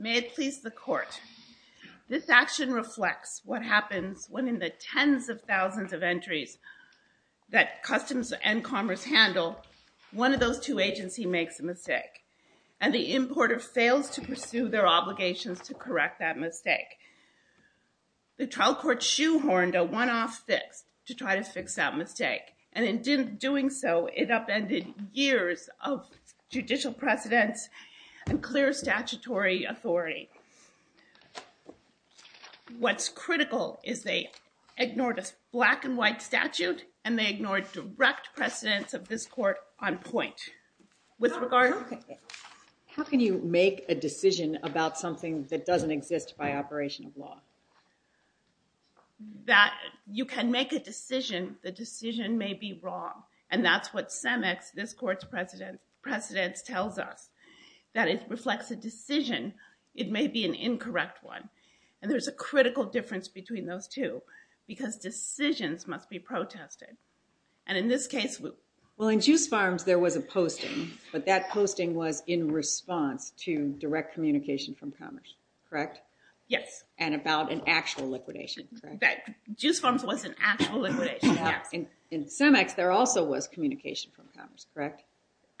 May it please the Court, this action reflects what happens when in the tens of thousands of entries that Customs and Commerce handle, one of those two agencies makes a mistake and the importer fails to pursue their obligations to correct that mistake. The trial court shoehorned a one-off fix to try to fix that mistake and in doing so it upended years of judicial precedence and clear statutory authority. What's critical is they ignored a black and white statute and they ignored direct precedence of this Court on point. How can you make a decision about something that doesn't exist by operation of law? You can make a decision, the decision may be wrong and that's what CEMEX, this Court's precedence tells us, that it reflects a decision, it may be an incorrect one and there's a critical difference between those two because decisions must be protested and in this case we... Well in Juice Farms there was a posting but that posting was in response to direct communication from Commerce, correct? Yes. And about an actual liquidation, correct? Juice Farms was an actual liquidation, yes. In CEMEX there also was communication from Commerce, correct? Correct.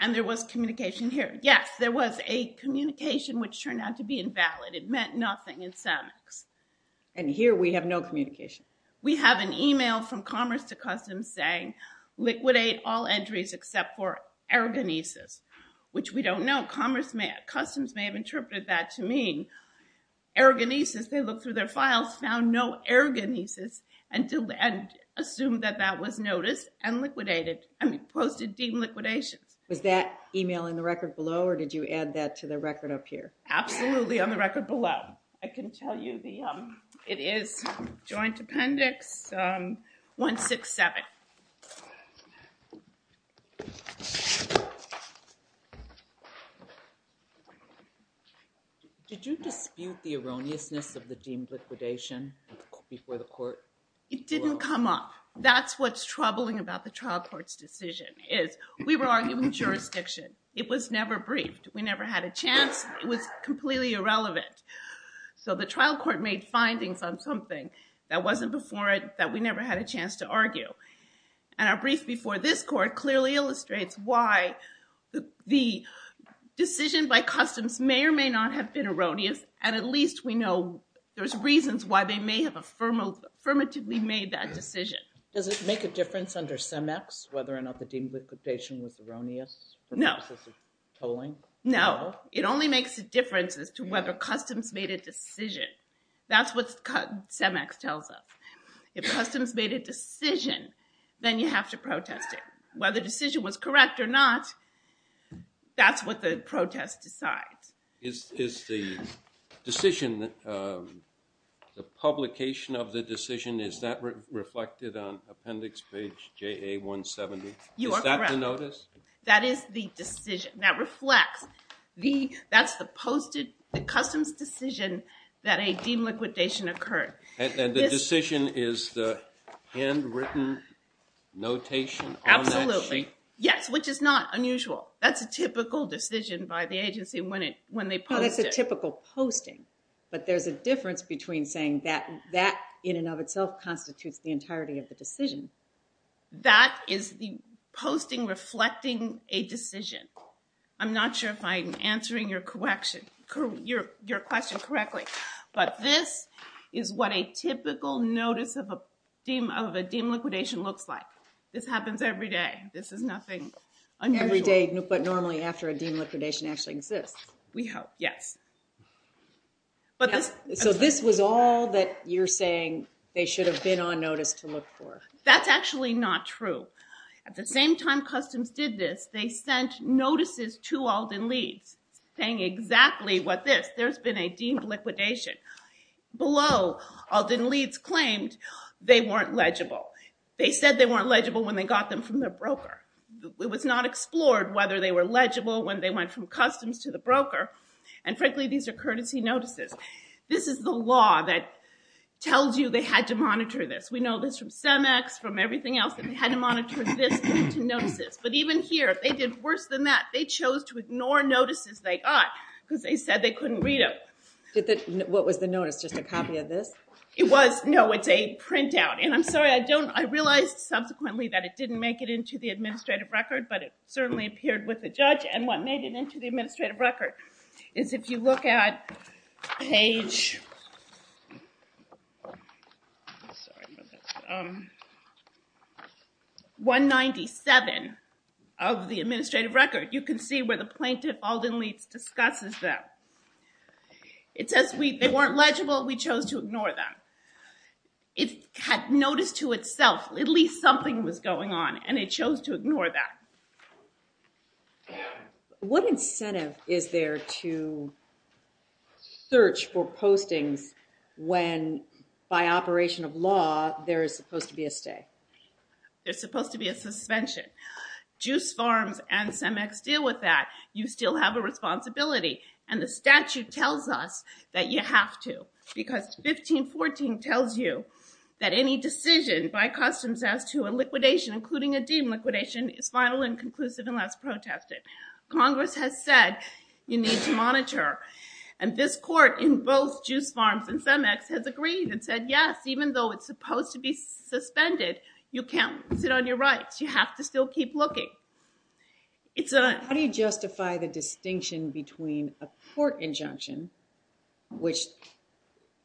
And there was communication here, yes, there was a communication which turned out to be invalid, it meant nothing in CEMEX. And here we have no communication. We have an email from Commerce to Customs saying liquidate all entries except for Ergonesis which we don't know, Commerce may, Customs may have interpreted that to mean Ergonesis, they looked through their files, found no Ergonesis and assumed that that was noticed and liquidated, I mean posted deemed liquidations. Was that email in the record below or did you add that to the record up here? Absolutely on the record below. I can tell you the, it is Joint Appendix 167. Did you dispute the erroneousness of the deemed liquidation before the Court? It didn't come up. That's what's troubling about the trial court's decision is we were arguing jurisdiction, it was never briefed, we never had a chance, it was completely irrelevant. So the trial court made findings on something that wasn't before it that we never had a chance to argue. And our brief before this court clearly illustrates why the decision by Customs may or may not have been erroneous and at least we know there's reasons why they may have affirmatively made that decision. Does it make a difference under CEMEX whether or not the deemed liquidation was erroneous? No. No, it only makes a difference as to whether Customs made a decision. That's what CEMEX tells us. If Customs made a decision, then you have to protest it. Whether the decision was correct or not, that's what the protest decides. Is the decision, the publication of the decision, is that reflected on appendix page JA-170? You are correct. Is that the notice? That is the decision. That reflects, that's the Customs decision that a deemed liquidation occurred. And the decision is the handwritten notation on that sheet? Absolutely. Yes, which is not unusual. That's a typical decision by the agency when they post it. That's a typical posting, but there's a difference between saying that that in and of itself constitutes the entirety of the decision. That is the posting reflecting a decision. I'm not sure if I'm answering your question correctly, but this is what a typical notice of a deemed liquidation looks like. This happens every day. This is nothing unusual. Every day, but normally after a deemed liquidation actually exists. We hope, yes. So this was all that you're saying they should have been on notice to look for? That's actually not true. At the same time Customs did this, they sent notices to Alden Leeds saying exactly what this, there's been a deemed liquidation. Below, Alden Leeds claimed they weren't legible. They said they weren't legible when they got them from their broker. It was not explored whether they were legible when they went from Customs to the broker. And frankly, these are courtesy notices. This is the law that tells you they had to monitor this. We know this from CEMEX, from everything else, that they had to monitor this to notice this. But even here, they did worse than that. They chose to ignore notices they got because they said they couldn't read them. What was the notice? Just a copy of this? It was, no, it's a printout. And I'm sorry, I realized subsequently that it didn't make it into the administrative record, but it certainly appeared with the judge. And what made it into the administrative record is if you look at page 197 of the administrative record, you can see where the plaintiff, Alden Leeds, discusses them. It says they weren't legible, we chose to ignore them. It had notice to itself, at least something was going on, and it chose to ignore that. What incentive is there to search for postings when, by operation of law, there is supposed to be a stay? There's supposed to be a suspension. Juice Farms and CEMEX deal with that. You still have a responsibility. And the statute tells us that you have to, because 1514 tells you that any decision by customs as to a liquidation, including a deemed liquidation, is final and conclusive unless protested. Congress has said, you need to monitor. And this court in both Juice Farms and CEMEX has agreed and said, yes, even though it's supposed to be suspended, you can't sit on your rights. You have to still keep looking. How do you justify the distinction between a court injunction, which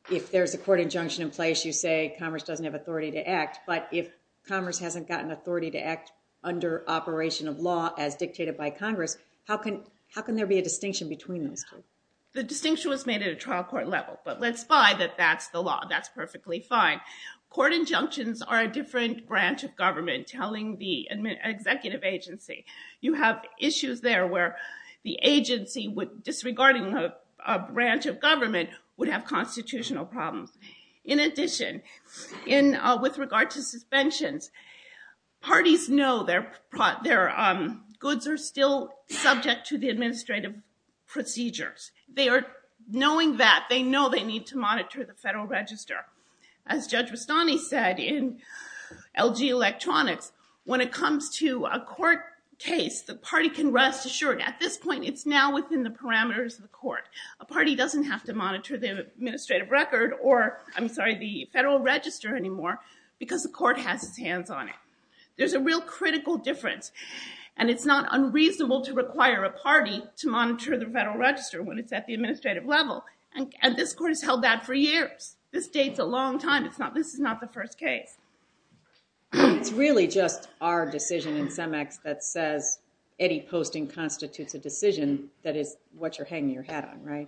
if there's a court injunction in place, you say Congress doesn't have authority to act, but if Congress hasn't gotten authority to act under operation of law as dictated by Congress, how can there be a distinction between those two? The distinction was made at a trial court level, but let's spy that that's the law. That's perfectly fine. Court injunctions are a different branch of government telling the executive agency. You have issues there where the agency, disregarding a branch of government, would have constitutional problems. In addition, with regard to suspensions, parties know their goods are still subject to the administrative procedures. They are knowing that. They know they need to monitor the federal register. As Judge Rustani said in LG Electronics, when it comes to a court case, the party can rest assured. At this point, it's now within the parameters of the court. A party doesn't have to monitor the administrative record or, I'm sorry, the federal register anymore because the court has its hands on it. There's a real critical difference, and it's not unreasonable to require a party to monitor the federal register when it's at the administrative level, and this court has held that for years. This dates a long time. This is not the first case. It's really just our decision in CEMEX that says any posting constitutes a decision that is what you're hanging your hat on, right?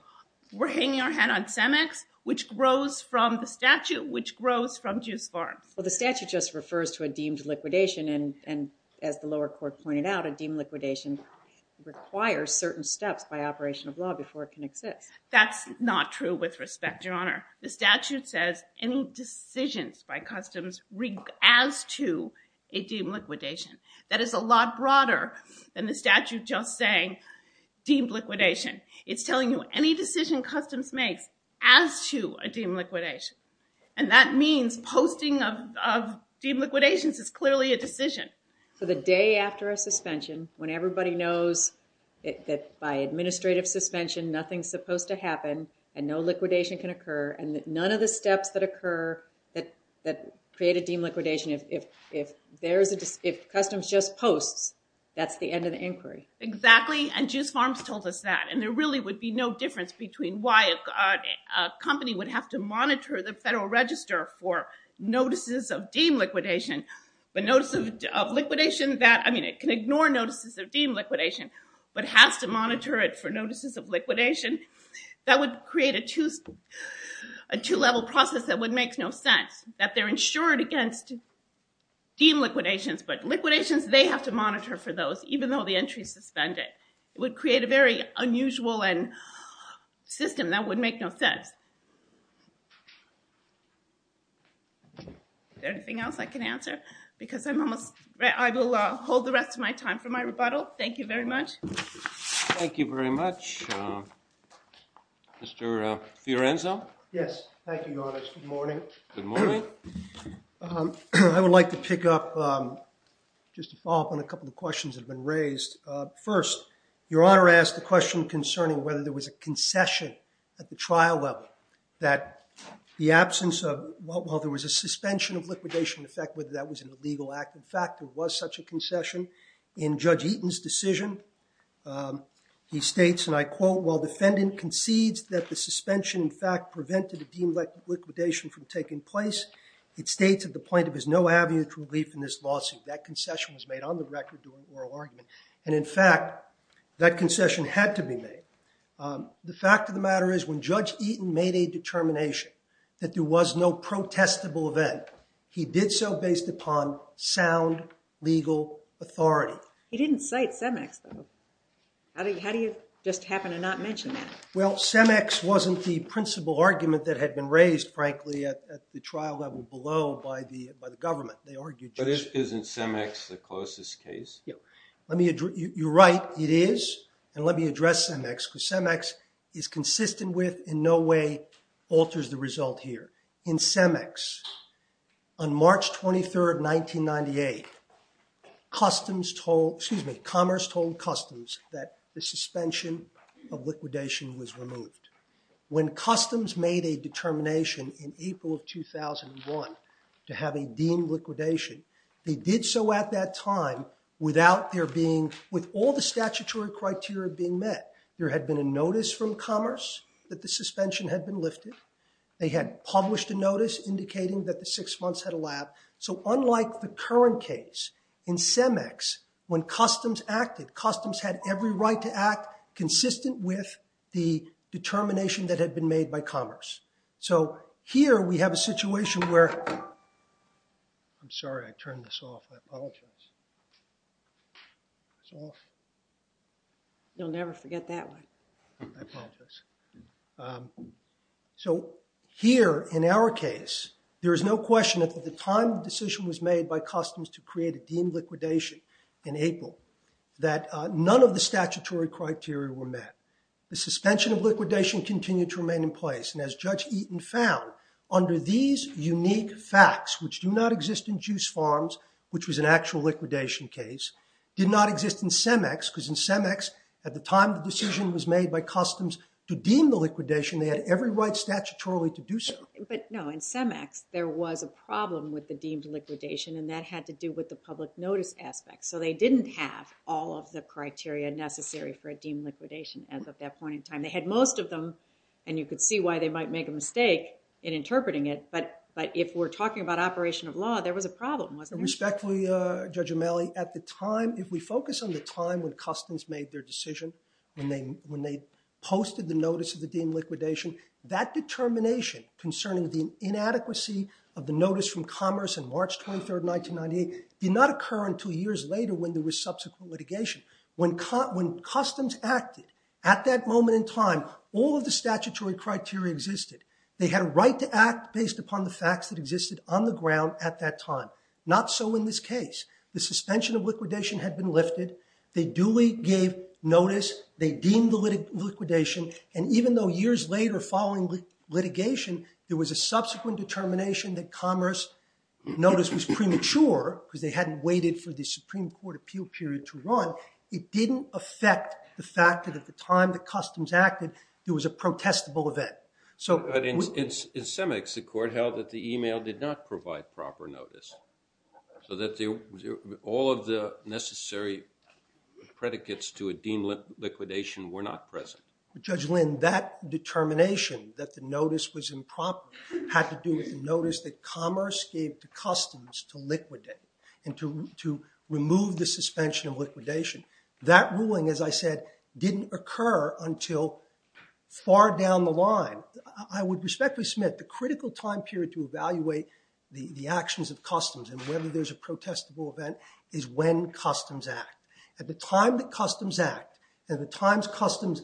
We're hanging our hat on CEMEX, which grows from the statute, which grows from Juice Farms. Well, the statute just refers to a deemed liquidation, and as the lower court pointed out, a deemed liquidation requires certain steps by operation of law before it can exist. That's not true with respect, Your Honor. The statute says any decisions by customs as to a deemed liquidation. That is a lot broader than the statute just saying deemed liquidation. It's telling you any decision customs makes as to a deemed liquidation, and that means posting of deemed liquidations is clearly a decision. So the day after a suspension, when everybody knows that by administrative suspension nothing is supposed to happen, and no liquidation can occur, and that none of the steps that occur that create a deemed liquidation, if customs just posts, that's the end of the inquiry. Exactly, and Juice Farms told us that, and there really would be no difference between why a company would have to monitor the federal register for notices of deemed liquidation, but notice of liquidation that, I mean, it can ignore notices of deemed liquidation, but has to monitor it for notices of liquidation. That would create a two-level process that would make no sense, that they're insured against deemed liquidations, but liquidations, they have to monitor for those, even though the entry's suspended. It would create a very unusual system that would make no sense. Is there anything else I can answer? Because I'm almost, I will hold the rest of my time for my rebuttal. Thank you very much. Thank you very much. Mr. Fiorenzo? Yes. Thank you, Your Honor. It's good morning. Good morning. I would like to pick up, just to follow up on a couple of questions that have been raised. First, Your Honor asked a question concerning whether there was a concession at the trial level that the absence of, well, there was a suspension of liquidation, in fact, whether that was an illegal act. In fact, there was such a concession. In Judge Eaton's decision, he states, and I quote, while defendant concedes that the suspension, in fact, prevented a deemed liquidation from taking place, it states at the point of his no aviator relief in this lawsuit, that concession was made on the record, during oral argument. And in fact, that concession had to be made. The fact of the matter is, when Judge Eaton made a determination that there was no protestable event, he did so based upon sound legal authority. He didn't cite CEMEX, though. How do you just happen to not mention that? Well, CEMEX wasn't the principal argument that had been raised, frankly, at the trial level below by the government. They argued just that. But isn't CEMEX the closest case? Yeah. You're right. It is. And let me address CEMEX, because CEMEX is consistent with, in no way, alters the result here. In CEMEX, on March 23, 1998, Commerce told Customs that the suspension of liquidation was removed. When Customs made a determination in April of 2001 to have a deemed liquidation, they did so at that time without there being, with all the statutory criteria being met. There had been a notice from Commerce that the suspension had been lifted. They had published a notice indicating that the six months had elapsed. So unlike the current case, in CEMEX, when Customs acted, Customs had every right to act consistent with the determination that had been made by Commerce. So here, we have a situation where, I'm sorry, I turned this off, I apologize, it's off. You'll never forget that one. I apologize. So here, in our case, there is no question that at the time the decision was made by Customs to create a deemed liquidation in April, that none of the statutory criteria were met. The suspension of liquidation continued to remain in place. And as Judge Eaton found, under these unique facts, which do not exist in Juice Farms, which was an actual liquidation case, did not exist in CEMEX, because in CEMEX, at the time the decision was made by Customs to deem the liquidation, they had every right statutorily to do so. But no, in CEMEX, there was a problem with the deemed liquidation, and that had to do with the public notice aspect. So they didn't have all of the criteria necessary for a deemed liquidation as of that point in time. They had most of them, and you could see why they might make a mistake in interpreting it, but if we're talking about operation of law, there was a problem, wasn't there? Respectfully, Judge O'Malley, at the time, if we focus on the time when Customs made their decision, when they posted the notice of the deemed liquidation, that determination concerning the inadequacy of the notice from Commerce on March 23, 1998, did not occur until years later when there was subsequent litigation. When Customs acted at that moment in time, all of the statutory criteria existed. They had a right to act based upon the facts that existed on the ground at that time. Not so in this case. The suspension of liquidation had been lifted. They duly gave notice. They deemed the liquidation, and even though years later, following litigation, there was a subsequent determination that Commerce notice was premature, because they hadn't waited for the Supreme Court appeal period to run, it didn't affect the fact that at the time that Customs acted, there was a protestable event. So- In Semex, the court held that the email did not provide proper notice, so that all of the necessary predicates to a deemed liquidation were not present. Judge Lynn, that determination that the notice was improper had to do with the notice that Commerce gave to Customs to liquidate and to remove the suspension of liquidation. That ruling, as I said, didn't occur until far down the line. I would respectfully submit the critical time period to evaluate the actions of Customs and whether there's a protestable event is when Customs act. At the time that Customs act, at the times Customs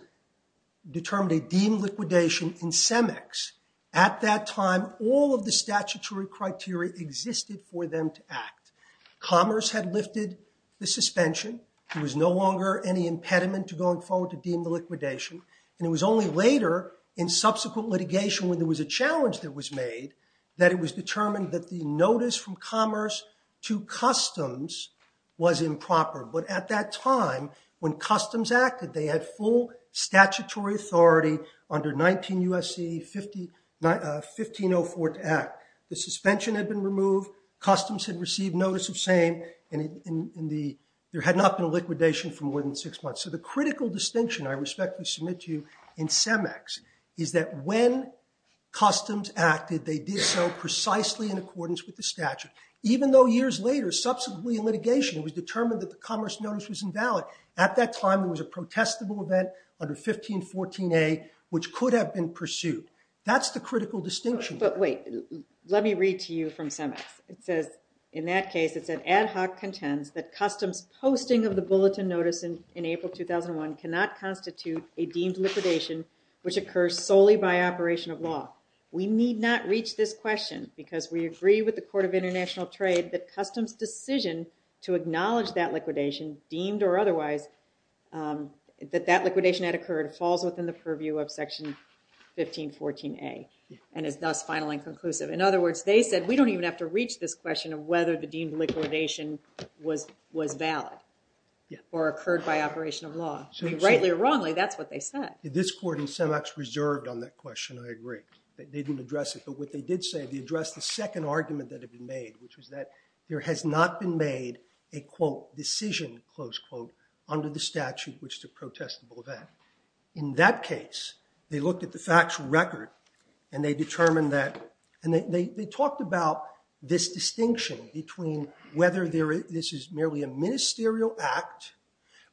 determined a deemed liquidation in Semex, at that time, all of the statutory criteria existed for them to act. Commerce had lifted the suspension. There was no longer any impediment to going forward to deem the liquidation, and it was only later, in subsequent litigation, when there was a challenge that was made, that it was determined that the notice from Commerce to Customs was improper. But at that time, when Customs acted, they had full statutory authority under 19 U.S. C.E. 1504 to act. The suspension had been removed. Customs had received notice of same, and there had not been a liquidation for more than six months. So the critical distinction I respectfully submit to you in Semex is that when Customs acted, they did so precisely in accordance with the statute. Even though years later, subsequently in litigation, it was determined that the Commerce notice was invalid, at that time, there was a protestable event under 1514A, which could have been pursued. That's the critical distinction. But wait, let me read to you from Semex. It says, in that case, it said, ad hoc contends that Customs posting of the bulletin notice in April 2001 cannot constitute a deemed liquidation, which occurs solely by operation of law. We need not reach this question, because we agree with the Court of International Trade that Customs' decision to acknowledge that liquidation, deemed or otherwise, that that liquidation had occurred, falls within the purview of section 1514A, and is thus final and conclusive. In other words, they said, we don't even have to reach this question of whether the deemed liquidation was valid or occurred by operation of law. I mean, rightly or wrongly, that's what they said. This court in Semex reserved on that question, I agree. They didn't address it. But what they did say, they addressed the second argument that had been made, which was that there has not been made a, quote, decision, close quote, under the statute, which is a protestable event. In that case, they looked at the factual record, and they determined that, and they talked about this distinction between whether this is merely a ministerial act,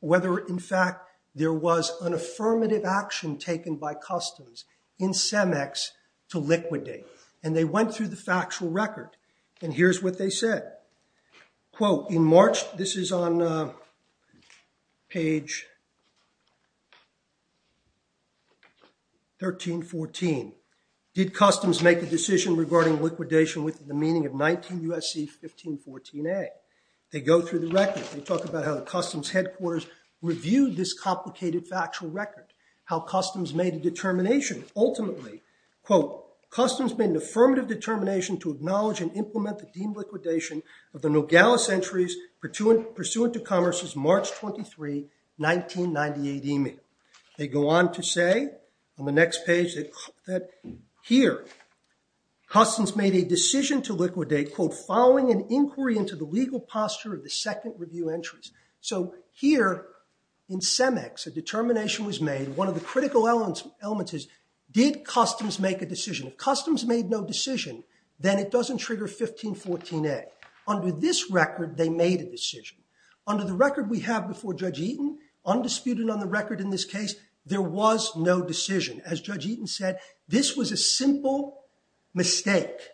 whether, in fact, there was an affirmative action taken by Customs in Semex to liquidate. And they went through the factual record, and here's what they said. Quote, in March, this is on page 1314, did Customs make a decision regarding liquidation within the meaning of 19 U.S.C. 1514A? They go through the record. They talk about how the Customs headquarters reviewed this complicated factual record, how Customs made a determination, ultimately, quote, Customs made an affirmative determination to acknowledge and implement the deemed liquidation of the Nogales entries pursuant to Commerce's March 23, 1998 email. They go on to say on the next page that here, Customs made a decision to liquidate, quote, following an inquiry into the legal posture of the second review entries. So here, in Semex, a determination was made, one of the critical elements is, did Customs make a decision? If Customs made no decision, then it doesn't trigger 1514A. Under this record, they made a decision. Under the record we have before Judge Eaton, undisputed on the record in this case, there was no decision. As Judge Eaton said, this was a simple mistake.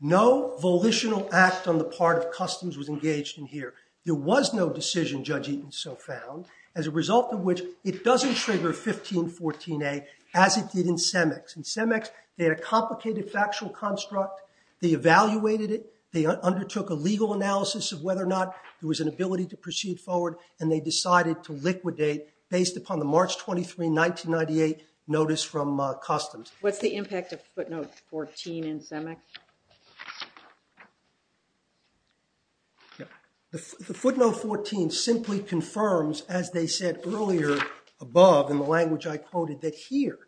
No volitional act on the part of Customs was engaged in here. There was no decision, Judge Eaton so found, as a result of which it doesn't trigger 1514A as it did in Semex. In Semex, they had a complicated factual construct. They evaluated it. They undertook a legal analysis of whether or not there was an ability to proceed forward, and they decided to liquidate based upon the March 23, 1998, notice from Customs. What's the impact of footnote 14 in Semex? The footnote 14 simply confirms, as they said earlier above in the language I quoted, that here,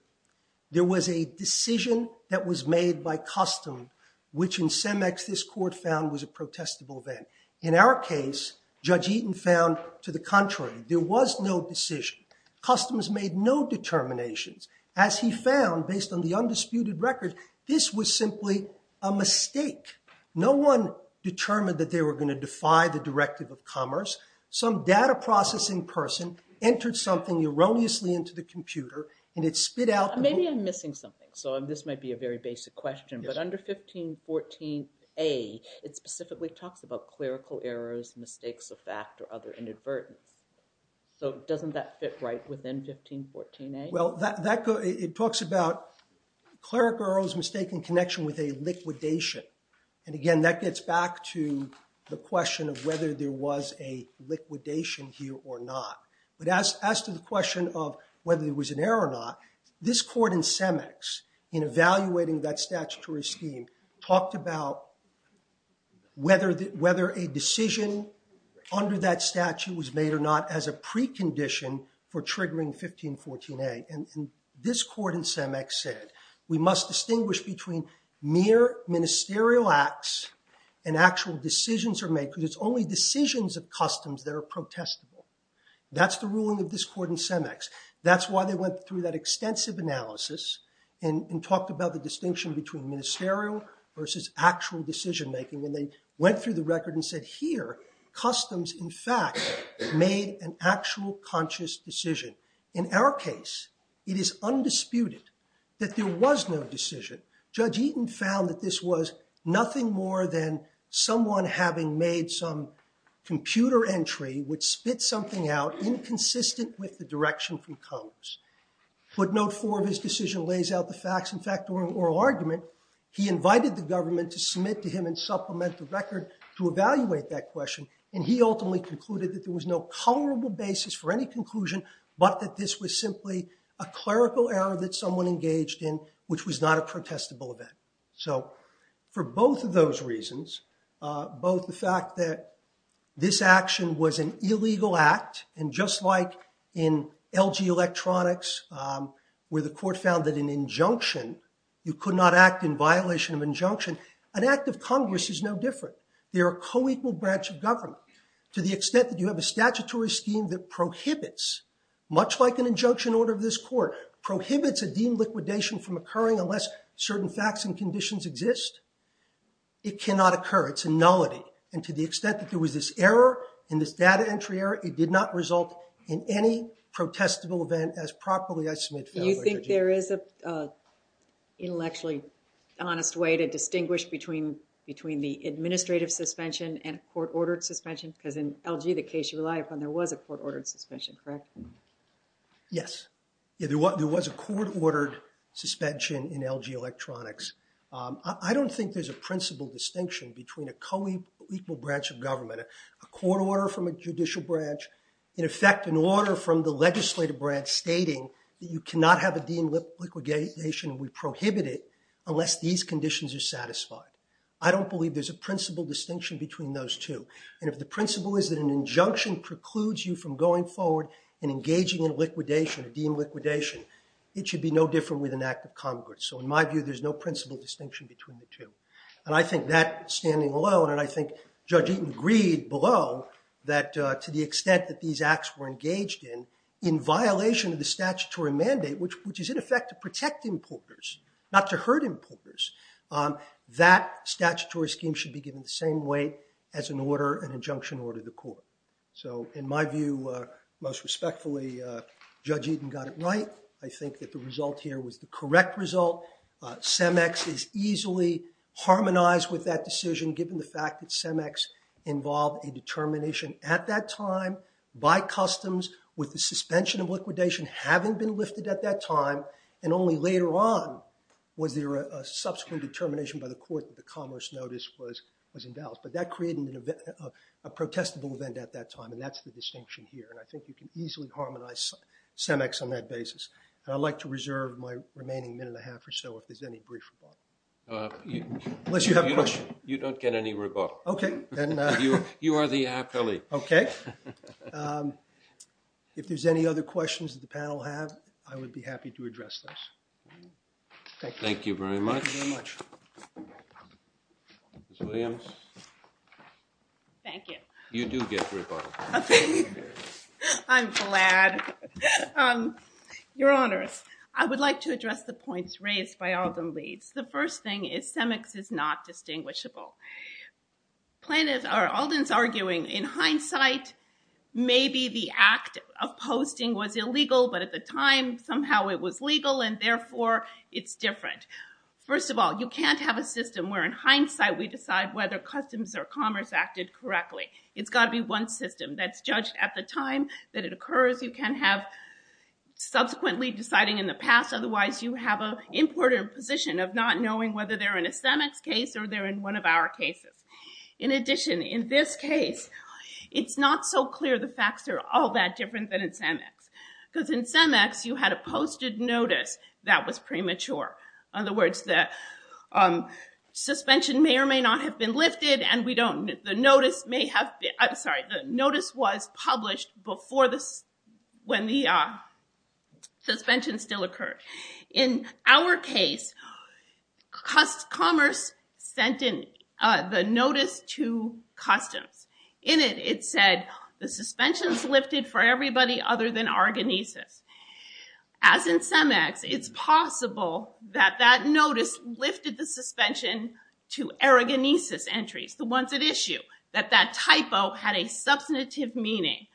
there was a decision that was made by Customs, which in Semex this court found was a protestable event. In our case, Judge Eaton found, to the contrary, there was no decision. Customs made no determinations. As he found, based on the undisputed record, this was simply a mistake. No one determined that they were going to defy the Directive of Commerce. Some data processing person entered something erroneously into the computer, and it spit out the- Maybe I'm missing something, so this might be a very basic question. But under 1514A, it specifically talks about clerical errors, mistakes of fact, or other inadvertence. So doesn't that fit right within 1514A? Well, it talks about clerical errors, mistake, and connection with a liquidation. And again, that gets back to the question of whether there was a liquidation here or not. But as to the question of whether there was an error or not, this court in Semex, in evaluating that statutory scheme, talked about whether a decision under that statute was made or not as a precondition for triggering 1514A. And this court in Semex said, we must distinguish between mere ministerial acts and actual decisions are made, because it's only decisions of customs that are protestable. That's the ruling of this court in Semex. That's why they went through that extensive analysis and talked about the distinction between ministerial versus actual decision making. And they went through the record and said, here, customs, in fact, made an actual conscious decision. In our case, it is undisputed that there was no decision. Judge Eaton found that this was nothing more than someone having made some computer entry, which spit something out inconsistent with the direction from Congress. Footnote 4 of his decision lays out the facts. In fact, during oral argument, he invited the government to submit to him and supplement the record to evaluate that question. And he ultimately concluded that there was no colorable basis for any conclusion, but that this was simply a clerical error that someone engaged in, which was not a protestable event. So for both of those reasons, both the fact that this action was an illegal act, and just like in LG Electronics, where the court found that in injunction, you could not act in violation of injunction, an act of Congress is no different. They are a co-equal branch of government. To the extent that you have a statutory scheme that prohibits, much like an injunction order of this court, prohibits a deemed liquidation from occurring unless certain facts and conditions exist, it cannot occur. It's a nullity. And to the extent that there was this error in this data entry error, it did not result in any protestable event as properly as Smith found. Do you think there is an intellectually honest way to distinguish between the administrative suspension and a court-ordered suspension? Because in LG, the case you rely upon, there was a court-ordered suspension, correct? Yes. There was a court-ordered suspension in LG Electronics. I don't think there's a principal distinction between a co-equal branch of government, a court order from a judicial branch, in effect, an order from the legislative branch stating that you cannot have a deemed liquidation and we prohibit it unless these conditions are satisfied. I don't believe there's a principal distinction between those two. And if the principle is that an injunction precludes you from going forward and engaging in a deemed liquidation, it should be no different with an act of Congress. So in my view, there's no principal distinction between the two. And I think that, standing alone, and I think Judge Eaton agreed below that to the extent that these acts were engaged in, in violation of the statutory mandate, which is, in effect, to protect importers, not to hurt importers, that statutory scheme should be given the same weight as an order, an injunction, or to the court. So in my view, most respectfully, Judge Eaton got it right. I think that the result here was the correct result. CEMEX is easily harmonized with that decision, given the fact that CEMEX involved a determination at that time, by customs, with the suspension of liquidation having been lifted at that time. And only later on was there a subsequent determination by the court that the Commerce Notice was invalid. But that created a protestable event at that time. And that's the distinction here. And I think you can easily harmonize CEMEX on that basis. And I'd like to reserve my remaining minute and a half or so, if there's any brief rebuttal. Unless you have a question. You don't get any rebuttal. OK. You are the appellee. OK. If there's any other questions that the panel have, I would be happy to address those. Thank you very much. Thank you very much. Ms. Williams? Thank you. You do get rebuttal. I'm glad. Your Honor, I would like to address the points raised by Alden Leeds. The first thing is CEMEX is not distinguishable. Alden's arguing, in hindsight, maybe the act of posting was illegal. But at the time, somehow it was legal. And therefore, it's different. First of all, you can't have a system where, in hindsight, we decide whether customs or commerce acted correctly. It's got to be one system that's judged at the time that it occurs. You can't have subsequently deciding in the past. Otherwise, you have an important position of not knowing whether they're in a CEMEX case or they're in one of our cases. In addition, in this case, it's not so clear the facts are all that different than in CEMEX. Because in CEMEX, you had a posted notice that was premature. In other words, the suspension may or may not have been lifted. And the notice may have been published before when the suspension still occurred. In our case, commerce sent in the notice to customs. In it, it said, the suspension's lifted for everybody other than Argonesis. As in CEMEX, it's possible that that notice lifted the suspension to Argonesis entries, the ones at issue. That that typo had a substantive meaning.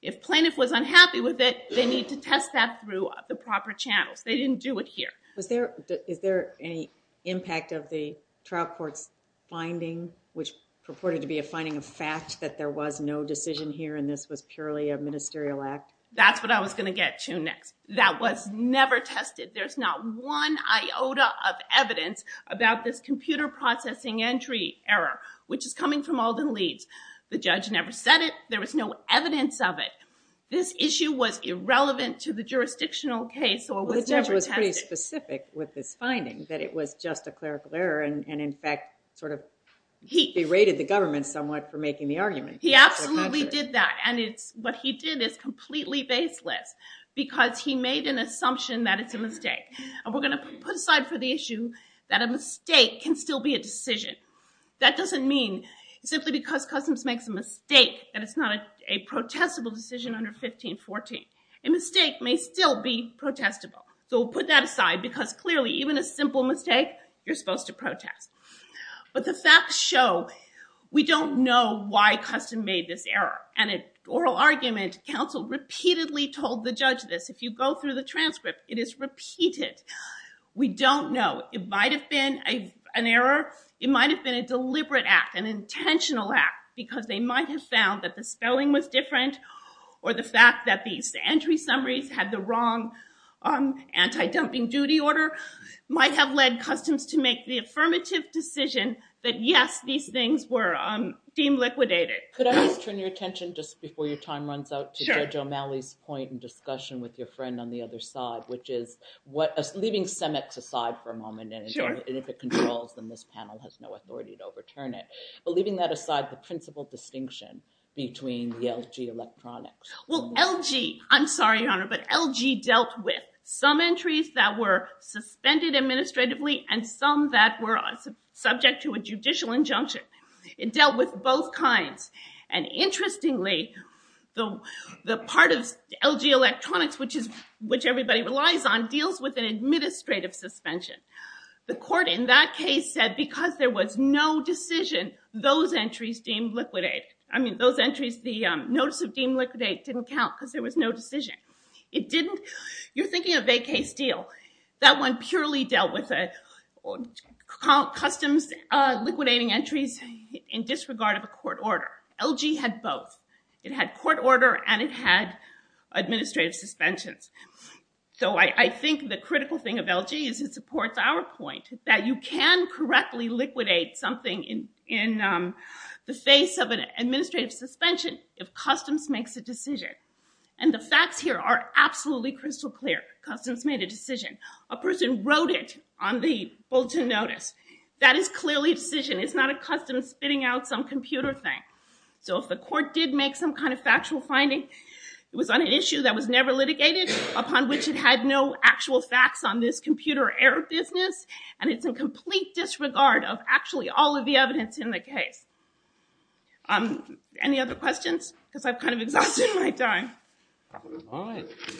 If plaintiff was unhappy with it, they need to test that through the proper channels. They didn't do it here. Is there any impact of the trial court's finding, which purported to be a finding of fact that there was no decision here and this was purely a ministerial act? That's what I was going to get to next. That was never tested. There's not one iota of evidence about this computer processing entry error, which is coming from Alden Leeds. The judge never said it. There was no evidence of it. This issue was irrelevant to the jurisdictional case or was never tested. Well, the judge was pretty specific with this finding, that it was just a clerical error and, in fact, sort of berated the government somewhat for making the argument. He absolutely did that. And what he did is completely baseless because he made an assumption that it's a mistake. And we're going to put aside for the issue that a mistake can still be a decision. That doesn't mean simply because Customs makes a mistake that it's not a protestable decision under 1514. A mistake may still be protestable. So we'll put that aside because, clearly, even a simple mistake, you're supposed to protest. But the facts show we don't know why Custom made this error. And an oral argument, counsel repeatedly told the judge this. If you go through the transcript, it is repeated. We don't know. It might have been an error. It might have been a deliberate act, an intentional act, because they might have found that the spelling was different or the fact that these entry summaries had the wrong anti-dumping duty order might have led Customs to make the affirmative decision that, yes, these things were deemed liquidated. Could I just turn your attention, just before your time runs out, to Judge O'Malley's point in discussion with your friend on the other side, which is, leaving CEMEX aside for a moment, and if it controls, then this panel has no authority to overturn it. But leaving that aside, the principal distinction between the LG Electronics. Well, LG, I'm sorry, Your Honor, but LG dealt with some entries that were suspended administratively and some that were subject to a judicial injunction. It dealt with both kinds. And interestingly, the part of LG Electronics, which everybody relies on, deals with an administrative suspension. The court in that case said, because there was no decision, those entries deemed liquidated. I mean, those entries, the notice of deemed liquidated didn't count because there was no decision. It didn't. You're thinking of a case deal. That one purely dealt with Customs liquidating entries in disregard of a court order. LG had both. It had court order, and it had administrative suspensions. So I think the critical thing of LG is it supports our point that you can correctly liquidate something in the face of an administrative suspension if Customs makes a decision. And the facts here are absolutely crystal clear. Customs made a decision. A person wrote it on the bulletin notice. That is clearly a decision. It's not a Customs spitting out some computer thing. So if the court did make some kind of factual finding, it was on an issue that was never litigated, upon which it had no actual facts on this computer error business. And it's in complete disregard of actually all of the evidence in the case. Any other questions? Because I've kind of exhausted my time.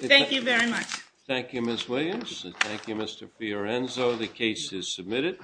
Thank you very much. Thank you, Ms. Williams, and thank you, Mr. Fiorenzo. The case is submitted.